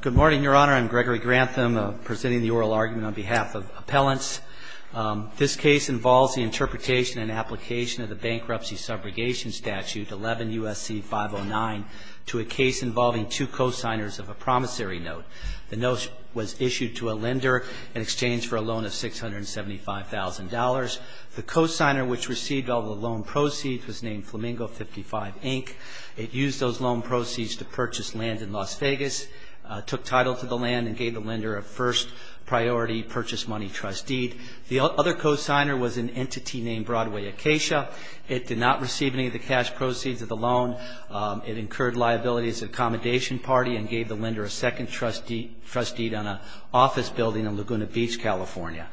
Good morning, your honor. I'm Gregory Grantham, presenting the oral argument on behalf of appellants. This case involves the interpretation and application of the bankruptcy subrogation statute 11 U.S.C. 509 to a case involving two co-signers of a promissory note. The note was issued to a lender in exchange for a loan of $675,000. The co-signer which received all the loan proceeds was named Flamingo 55, Inc. It used those loan proceeds to purchase land in Las Vegas. It was issued to the plaintiff's name, took title to the land and gave the lender a first priority purchase money trust deed. The other co-signer was an entity named Broadway Acacia. It did not receive any of the cash proceeds of the loan. It incurred liability as an accommodation party and gave the lender a second trust deed on an office building in Laguna Beach, California.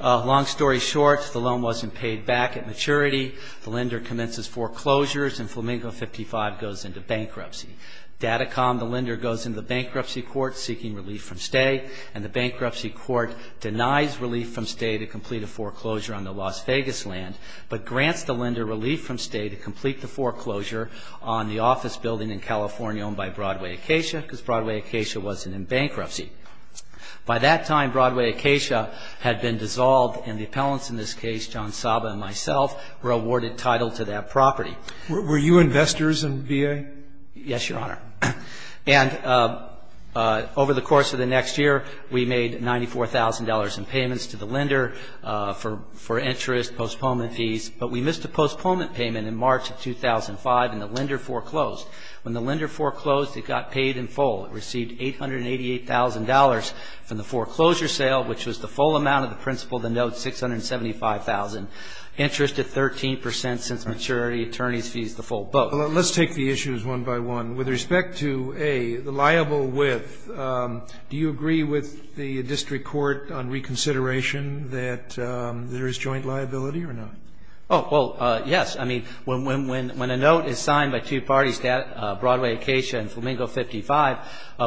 Long story short, the loan wasn't paid back at maturity. The lender commences foreclosures and Flamingo 55 goes into bankruptcy. Datacom, the lender, goes into the bankruptcy court seeking relief from stay and the bankruptcy court denies relief from stay to complete a foreclosure on the Las Vegas land, but grants the lender relief from stay to complete the foreclosure on the office building in California owned by Broadway Acacia because Broadway Acacia wasn't in bankruptcy. By that time, Broadway Acacia had been dissolved and the appellants in this case, John Saba and myself, were awarded title to that property. Were you investors in VA? Yes, Your Honor. And over the course of the next year, we made $94,000 in payments to the lender for interest, postponement fees, but we missed a postponement payment in March of 2005 and the lender foreclosed. When the lender foreclosed, it got paid in full. It received $888,000 from the foreclosure sale, which was the full amount of the principal of the note, $675,000, interest at 13% since maturity, attorneys fees, the full book. Well, let's take the issues one by one. With respect to A, the liable with, do you agree with the district court on reconsideration that there is joint liability or not? Oh, well, yes. I mean, when a note is signed by two parties, Broadway Acacia and Flamingo 55,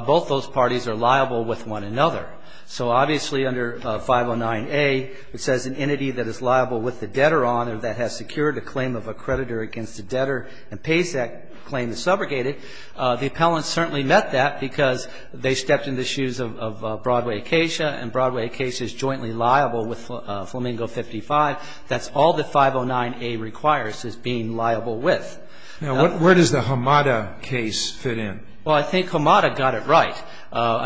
both those parties are liable with one another. So obviously under 509A, it says an entity that is liable with the debtor on or that has secured a claim of a creditor against the debtor and pays that claim to subrogate it. The appellants certainly met that because they stepped in the shoes of Broadway Acacia and Broadway Acacia is jointly liable with Flamingo 55. That's all that 509A requires is being liable with. Now, where does the Hamada case fit in? Well, I think Hamada got it right.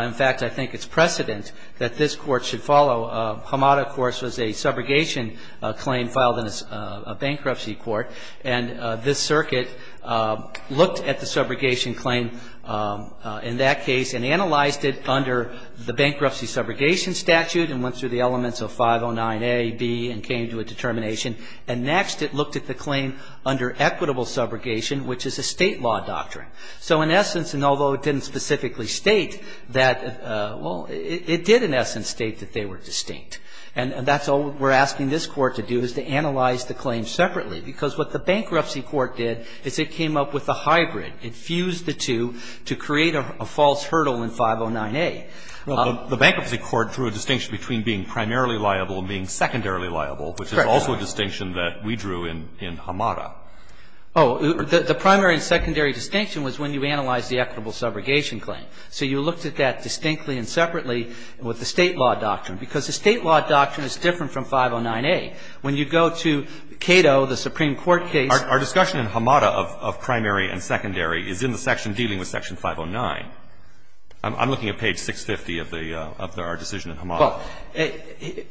In fact, I think it's precedent that this court should follow. Hamada, of course, was a subrogation claim filed in a bankruptcy court. And this circuit looked at the subrogation claim in that case and analyzed it under the bankruptcy subrogation statute and went through the elements of 509A, B, and came to a determination. And next, it looked at the claim under equitable subrogation, which is a state law doctrine. So in essence, and although it didn't specifically state that, well, it did in essence state that they were distinct. And that's all we're asking this court to do is to analyze the claim separately. Because what the bankruptcy court did is it came up with a hybrid. It fused the two to create a false hurdle in 509A. Well, the bankruptcy court drew a distinction between being primarily liable and being secondarily liable, which is also a distinction that we drew in Hamada. Oh, the primary and secondary distinction was when you analyzed the equitable subrogation claim. So you looked at that distinctly and separately with the state law doctrine. Because the state law doctrine is different from 509A. When you go to Cato, the Supreme Court case — Our discussion in Hamada of primary and secondary is in the section dealing with Section 509. I'm looking at page 650 of the — of our decision in Hamada. Well,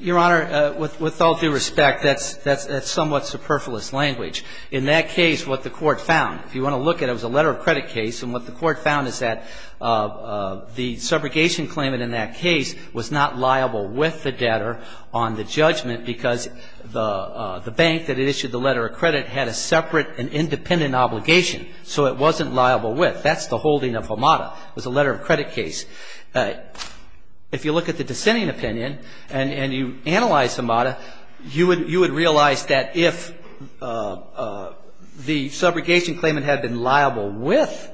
Your Honor, with all due respect, that's somewhat superfluous language. In that case, what the court found — if you want to look at it, it was a letter of credit case. And what the court found is that the subrogation claimant in that case was not liable with the debtor on the judgment because the bank that had issued the letter of credit had a separate and independent obligation. So it wasn't liable with. That's the holding of Hamada. It was a letter of credit case. If you look at the dissenting opinion and you analyze Hamada, you would realize that if the subrogation claimant had been liable with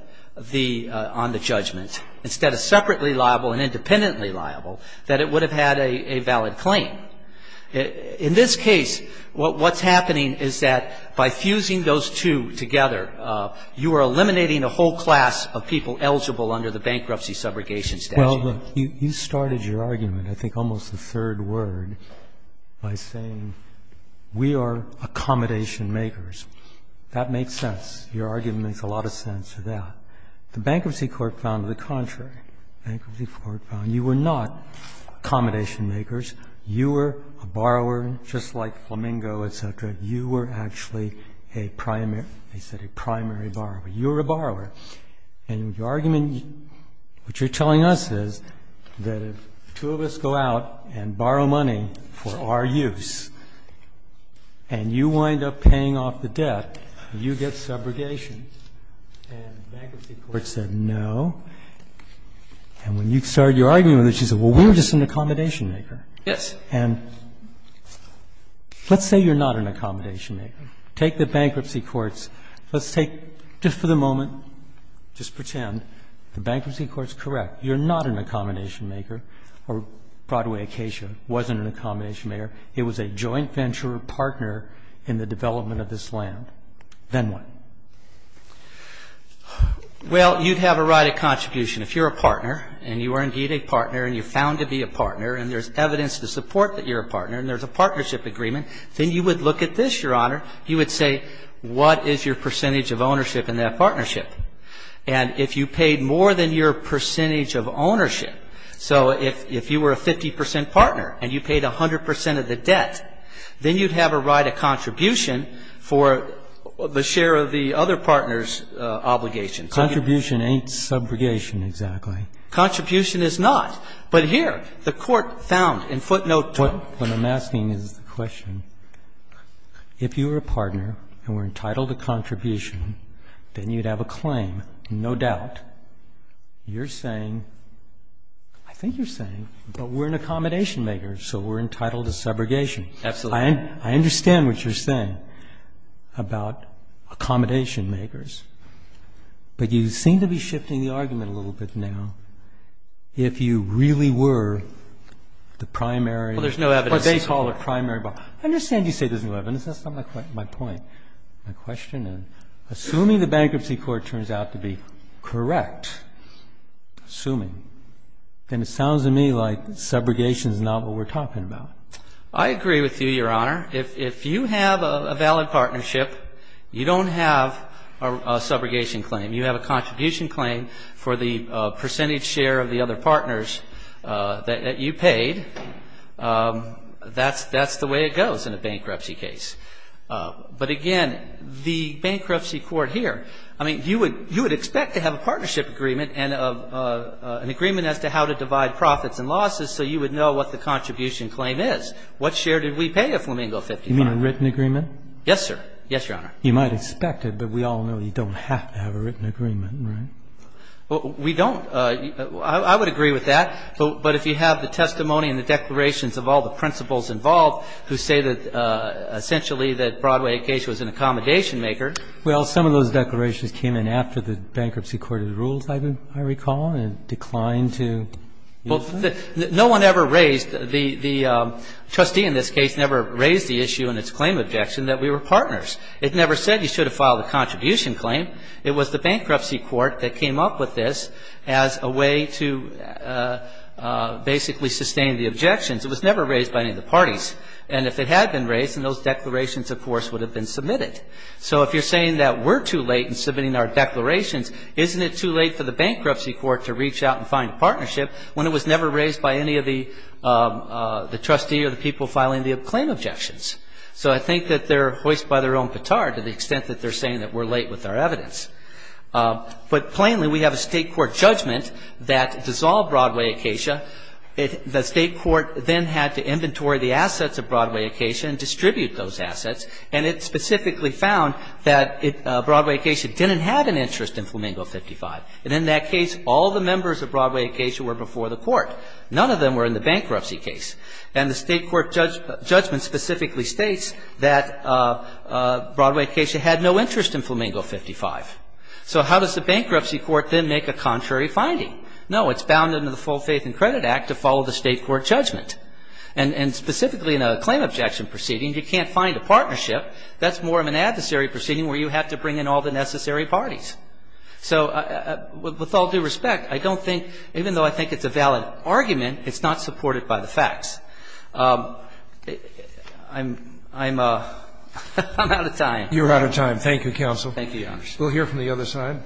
the — on the judgment, instead of separately liable and independently liable, that it would have had a valid claim. In this case, what's happening is that by fusing those two together, you are eliminating a whole class of people eligible under the bankruptcy subrogation statute. Well, look, you started your argument, I think almost the third word, by saying we are accommodation makers. That makes sense. Your argument makes a lot of sense to that. The bankruptcy court found the contrary. Bankruptcy court found you were not accommodation makers. You were a borrower, just like Flamingo, et cetera. You were actually a primary — they said a primary borrower. You were a borrower. And your telling us is that if two of us go out and borrow money for our use, and you wind up paying off the debt, you get subrogation, and the bankruptcy court said no. And when you started your argument, they said, well, we're just an accommodation maker. Yes. And let's say you're not an accommodation maker. Take the bankruptcy courts. Let's take, just for the moment, just pretend the bankruptcy court's correct. You're not an accommodation maker, or Broadway Acacia wasn't an accommodation maker. It was a joint venture partner in the development of this land. Then what? Well, you'd have a right of contribution. If you're a partner, and you are indeed a partner, and you're found to be a partner, and there's evidence to support that you're a partner, and there's a partnership agreement, then you would look at this, Your Honor. You would say, what is your percentage of ownership in that partnership? And if you paid more than your percentage of ownership, so if you were a 50 percent partner, and you paid 100 percent of the debt, then you'd have a right of contribution for the share of the other partner's obligations. Contribution ain't subrogation, exactly. Contribution is not. But here, the court found, in footnote 2. What I'm asking is the question, if you were a partner, and were entitled to contribution, then you'd have a claim, no doubt. You're saying, I think you're saying, but we're an accommodation maker, so we're entitled to subrogation. Absolutely. I understand what you're saying about accommodation makers. But you seem to be shifting the argument a little bit now. If you really were the primary Well, there's no evidence. What they call a primary. I understand you say there's no evidence. That's not my point. My question is, assuming the bankruptcy court turns out to be correct, assuming, then it sounds to me like subrogation is not what we're talking about. I agree with you, Your Honor. If you have a valid partnership, you don't have a subrogation claim. You have a contribution claim for the percentage share of the other partners that you paid. That's the way it goes in a bankruptcy case. But again, the bankruptcy court here, I mean, you would expect to have a partnership agreement and an agreement as to how to divide profits and losses so you would know what the contribution claim is. What share did we pay of Flamingo 55? You mean a written agreement? Yes, sir. Yes, Your Honor. You might expect it, but we all know you don't have to have a written agreement, right? We don't. I would agree with that. But if you have the testimony and the declarations of all the principals involved who say that essentially that Broadway Acacia was an accommodation maker. Well, some of those declarations came in after the bankruptcy court had ruled, I recall, and declined to use them. Well, no one ever raised, the trustee in this case never raised the issue in its claim objection that we were partners. It never said you should have filed a contribution claim. It was the bankruptcy court that came up with this as a way to basically sustain the objections. It was never raised by any of the parties. And if it had been raised, then those declarations, of course, would have been submitted. So if you're saying that we're too late in submitting our declarations, isn't it too late for the bankruptcy court to reach out and find a partnership when it was never raised by any of the trustee or the people filing the claim objections? So I think that they're hoist by their own petard to the extent that they're saying that we're late with our evidence. But plainly, we have a state court judgment that dissolved Broadway Acacia. The state court then had to inventory the assets of Broadway Acacia and distribute those assets. And it specifically found that Broadway Acacia didn't have an interest in Flamingo 55. And in that case, all the members of Broadway Acacia were before the court. None of them were in the bankruptcy case. And the state court judgment specifically states that Broadway Acacia had no interest in Flamingo 55. So how does the bankruptcy court then make a contrary finding? No, it's bound under the Full Faith and Credit Act to follow the state court judgment. And specifically in a claim objection proceeding, you can't find a partnership. That's more of an adversary proceeding where you have to bring in all the necessary parties. So with all due respect, I don't think, even though I think it's a valid argument, it's not supported by the facts. I'm out of time. You're out of time. Thank you, counsel. Thank you, Your Honor. We'll hear from the other side.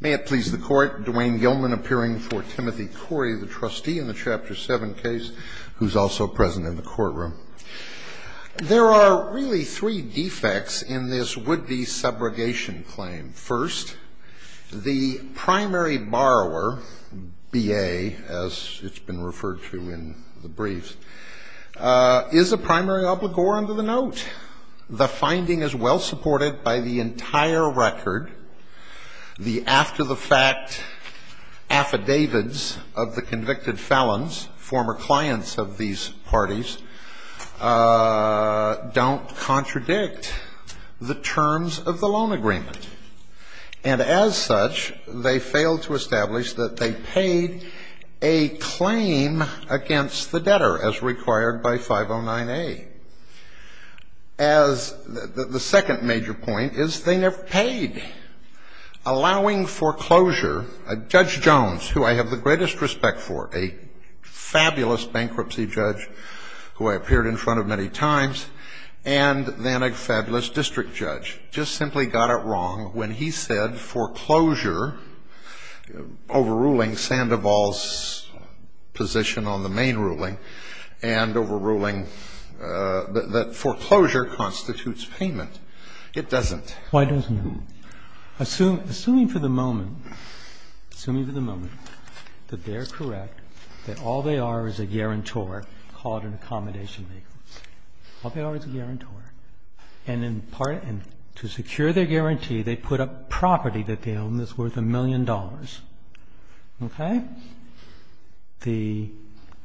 May it please the Court. Dwayne Gilman appearing for Timothy Corey, the trustee in the Chapter 7 case, who's also present in the courtroom. There are really three defects in this would-be subrogation claim. First, the primary borrower, B.A., as it's been referred to in the briefs, is a primary obligor under the note. The finding is well supported by the entire record. The after-the-fact affidavits of the convicted felons, former clients of these parties, don't contradict the terms of the loan agreement. And as such, they fail to establish that they paid a claim against the debtor as required by 509A. As the second major point is they never paid, allowing foreclosure a Judge Jones, who I have the greatest respect for, a fabulous bankruptcy judge who I appeared in front of many times, and then a fabulous district judge, just simply got it wrong when he said foreclosure, overruling Sandoval's position on the main ruling and overruling that foreclosure constitutes payment. It doesn't. Why doesn't it? Assuming for the moment, assuming for the moment that they are correct, that all they are is a guarantor called an accommodation maker, all they are is a guarantor, and to secure their guarantee, they put up property that they own that's worth a million dollars. Okay? The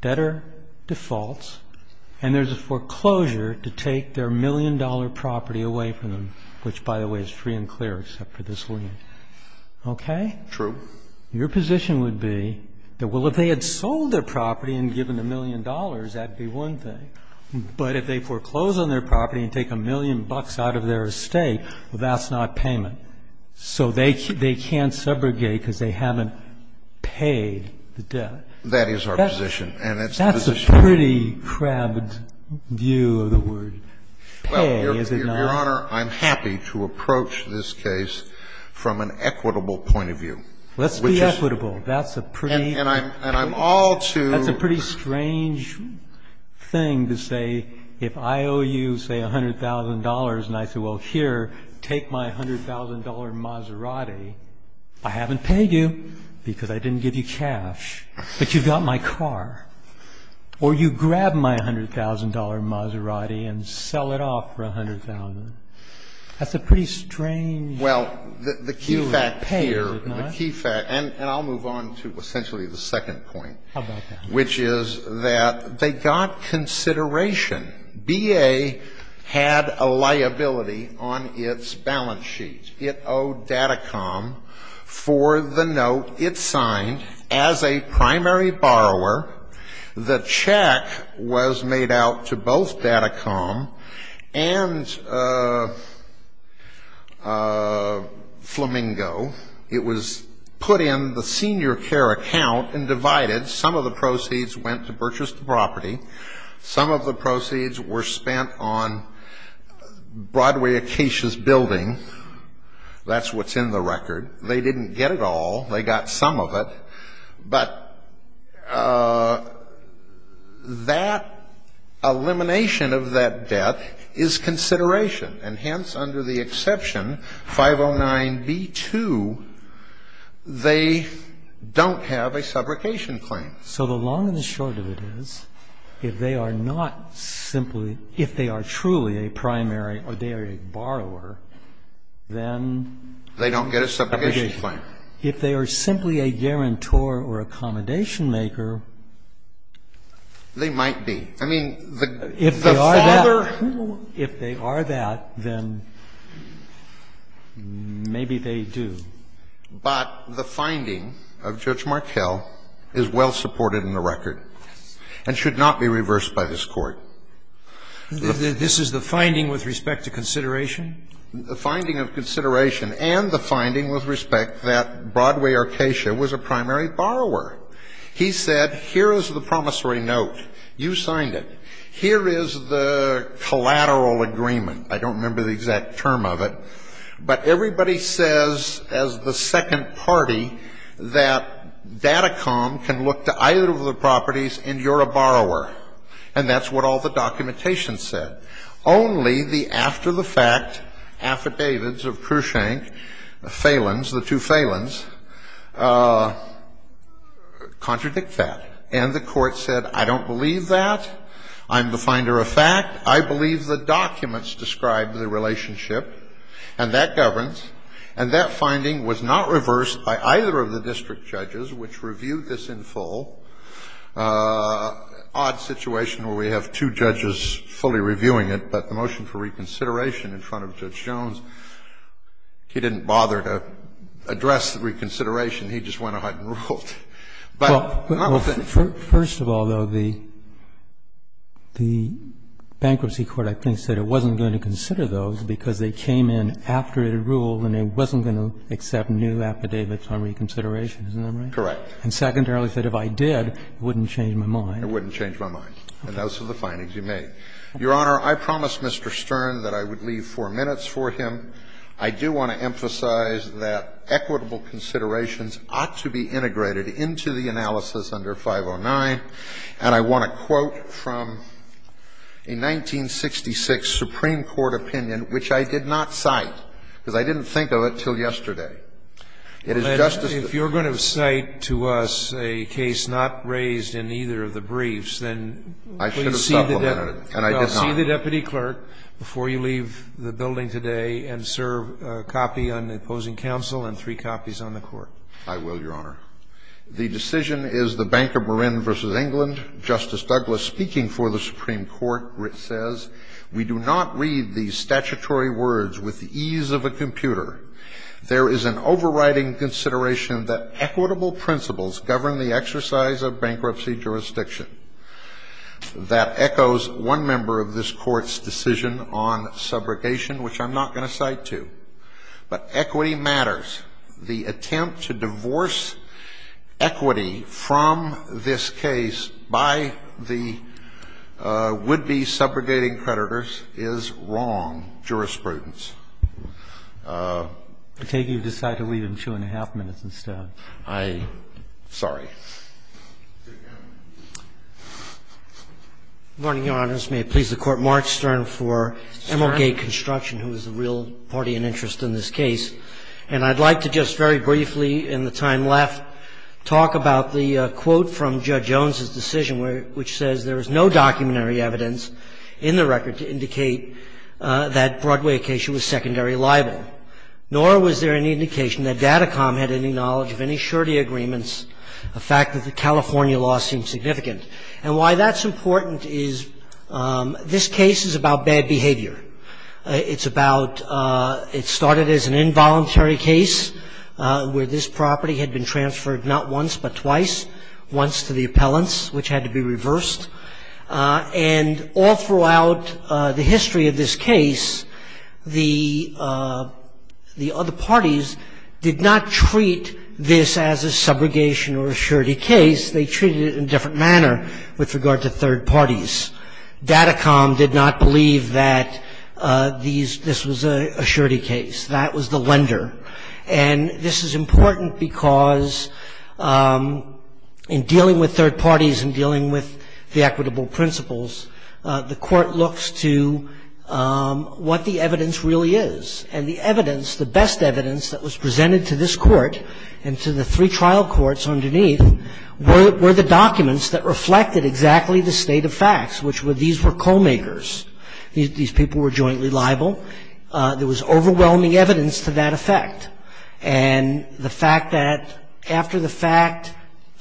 debtor defaults, and there's a foreclosure to take their million dollar property away from them, which by the way is free and clear except for this lien. Okay? True. Your position would be that, well, if they had sold their property and given a million dollars, that would be one thing. But if they foreclose on their property and take a million bucks out of their estate, well, that's not payment. So they can't subrogate because they haven't paid the debt. That is our position. That's a pretty crabbed view of the word. Pay, is it not? Well, Your Honor, I'm happy to approach this case from an equitable point of view. Let's be equitable. That's a pretty. And I'm all to. That's a pretty strange thing to say if I owe you, say, $100,000, and I say, well, here, take my $100,000 Maserati. I haven't paid you because I didn't give you cash, but you've got my car. Or you grab my $100,000 Maserati and sell it off for $100,000. That's a pretty strange view of pay, is it not? Well, the key fact here, the key fact, and I'll move on to essentially the second point. How about that? Which is that they got consideration. BA had a liability on its balance sheet. It owed Datacom for the note it signed as a primary borrower. The check was made out to both Datacom and Flamingo. It was put in the senior care account and divided. Some of the proceeds went to purchase the property. Some of the proceeds were spent on Broadway Acacia's building. That's what's in the record. They didn't get it all. They got some of it. But that elimination of that debt is consideration. And hence, under the exception 509B2, they don't have a subrogation claim. So the long and the short of it is, if they are not simply, if they are truly a primary or they are a borrower, then... They don't get a subrogation claim. If they are simply a guarantor or accommodation maker... They might be. I mean, the father... If they are not, then maybe they do. But the finding of Judge Markell is well supported in the record and should not be reversed by this Court. This is the finding with respect to consideration? The finding of consideration and the finding with respect that Broadway Acacia was a primary borrower. He said, here is the promissory note. You signed it. Here is the collateral agreement. I don't remember the exact term of it. But everybody says, as the second party, that Datacom can look to either of the properties and you're a borrower. And that's what all the documentation said. Only the after-the-fact affidavits of Kershank, the Falins, the two Falins, contradict that. And the Court said, I don't believe that. I'm the finder of fact. I believe the documents describe the relationship. And that governs. And that finding was not reversed by either of the district judges, which reviewed this in full. Odd situation where we have two judges fully reviewing it, but the motion for reconsideration in front of Judge Jones, he didn't bother to address the reconsideration. He just went ahead and ruled. And he said, I don't believe that. And he said, I don't believe that. But not with the other things. Roberts. First of all, though, the bankruptcy court, I think, said it wasn't going to consider those because they came in after it had ruled and it wasn't going to accept new affidavits on reconsideration. Isn't that right? Correct. And secondarily said, if I did, it wouldn't change my mind. It wouldn't change my mind. And those are the findings you made. Your Honor, I promised Mr. Stern that I would leave four minutes for him. I do want to emphasize that equitable considerations ought to be integrated into the analysis under 509. And I want to quote from a 1966 Supreme Court opinion, which I did not cite, because I didn't think of it until yesterday. It is just as the ---- If you're going to cite to us a case not raised in either of the briefs, then please supplement it. And I did not. Well, see the deputy clerk before you leave the building today and serve a copy on the opposing counsel and three copies on the court. I will, Your Honor. The decision is the Bank of Marin v. England. Justice Douglas, speaking for the Supreme Court, says, We do not read these statutory words with the ease of a computer. There is an overriding consideration that equitable principles govern the exercise of bankruptcy jurisdiction. That echoes one member of this Court's decision on subrogation, which I'm not going to cite to. But equity matters. The attempt to divorce equity from this case by the would-be subrogating creditors is wrong jurisprudence. I take it you've decided to leave in two and a half minutes instead. I ---- Sorry. Good morning, Your Honors. May it please the Court. Mark Stern for Emerald Gate Construction, who is the real party and interest in this case. And I'd like to just very briefly, in the time left, talk about the quote from Judge Jones's decision, which says, There is no documentary evidence in the record to indicate that Broadway Acacia was secondary liable, nor was there any indication that Datacom had any knowledge of any surety agreements, the fact that the California law seemed significant. And why that's important is this case is about bad behavior. It's about ---- it started as an involuntary case where this property had been transferred not once but twice, once to the appellants, which had to be reversed. And all throughout the history of this case, the other parties did not treat the this as a subrogation or a surety case. They treated it in a different manner with regard to third parties. Datacom did not believe that this was a surety case. That was the lender. And this is important because in dealing with third parties and dealing with the equitable principles, the Court looks to what the evidence really is. And the evidence, the best evidence that was presented to this Court and to the three trial courts underneath were the documents that reflected exactly the state of facts, which were these were co-makers. These people were jointly liable. There was overwhelming evidence to that effect. And the fact that after the fact,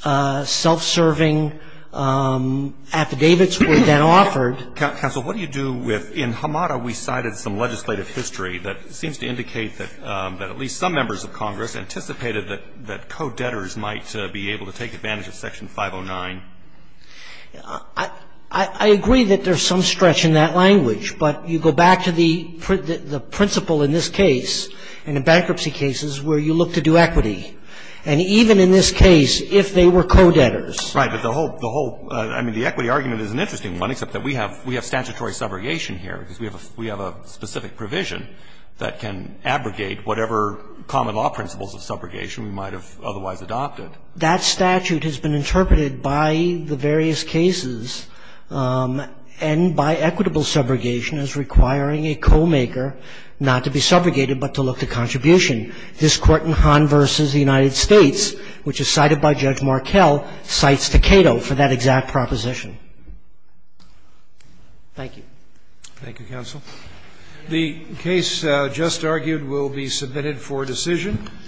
self-serving affidavits were then offered. Roberts. If you could give us a sample of the translation, I'm not sure if that's the way to go, but it's in a particular context. And it's a trial court, so it takes under the course of the case, as we saw, a significant And we have statutory subrogation here because we have a specific provision that can abrogate whatever common law principles of subrogation we might have otherwise adopted. That statute has been interpreted by the various cases and by equitable subrogation as requiring a co-maker not to be subrogated but to look to contribution. This Court in Hahn v. The United States, which is cited by Judge Markell, cites Takedo for that exact proposition. Thank you. Thank you, counsel. The case just argued will be submitted for decision.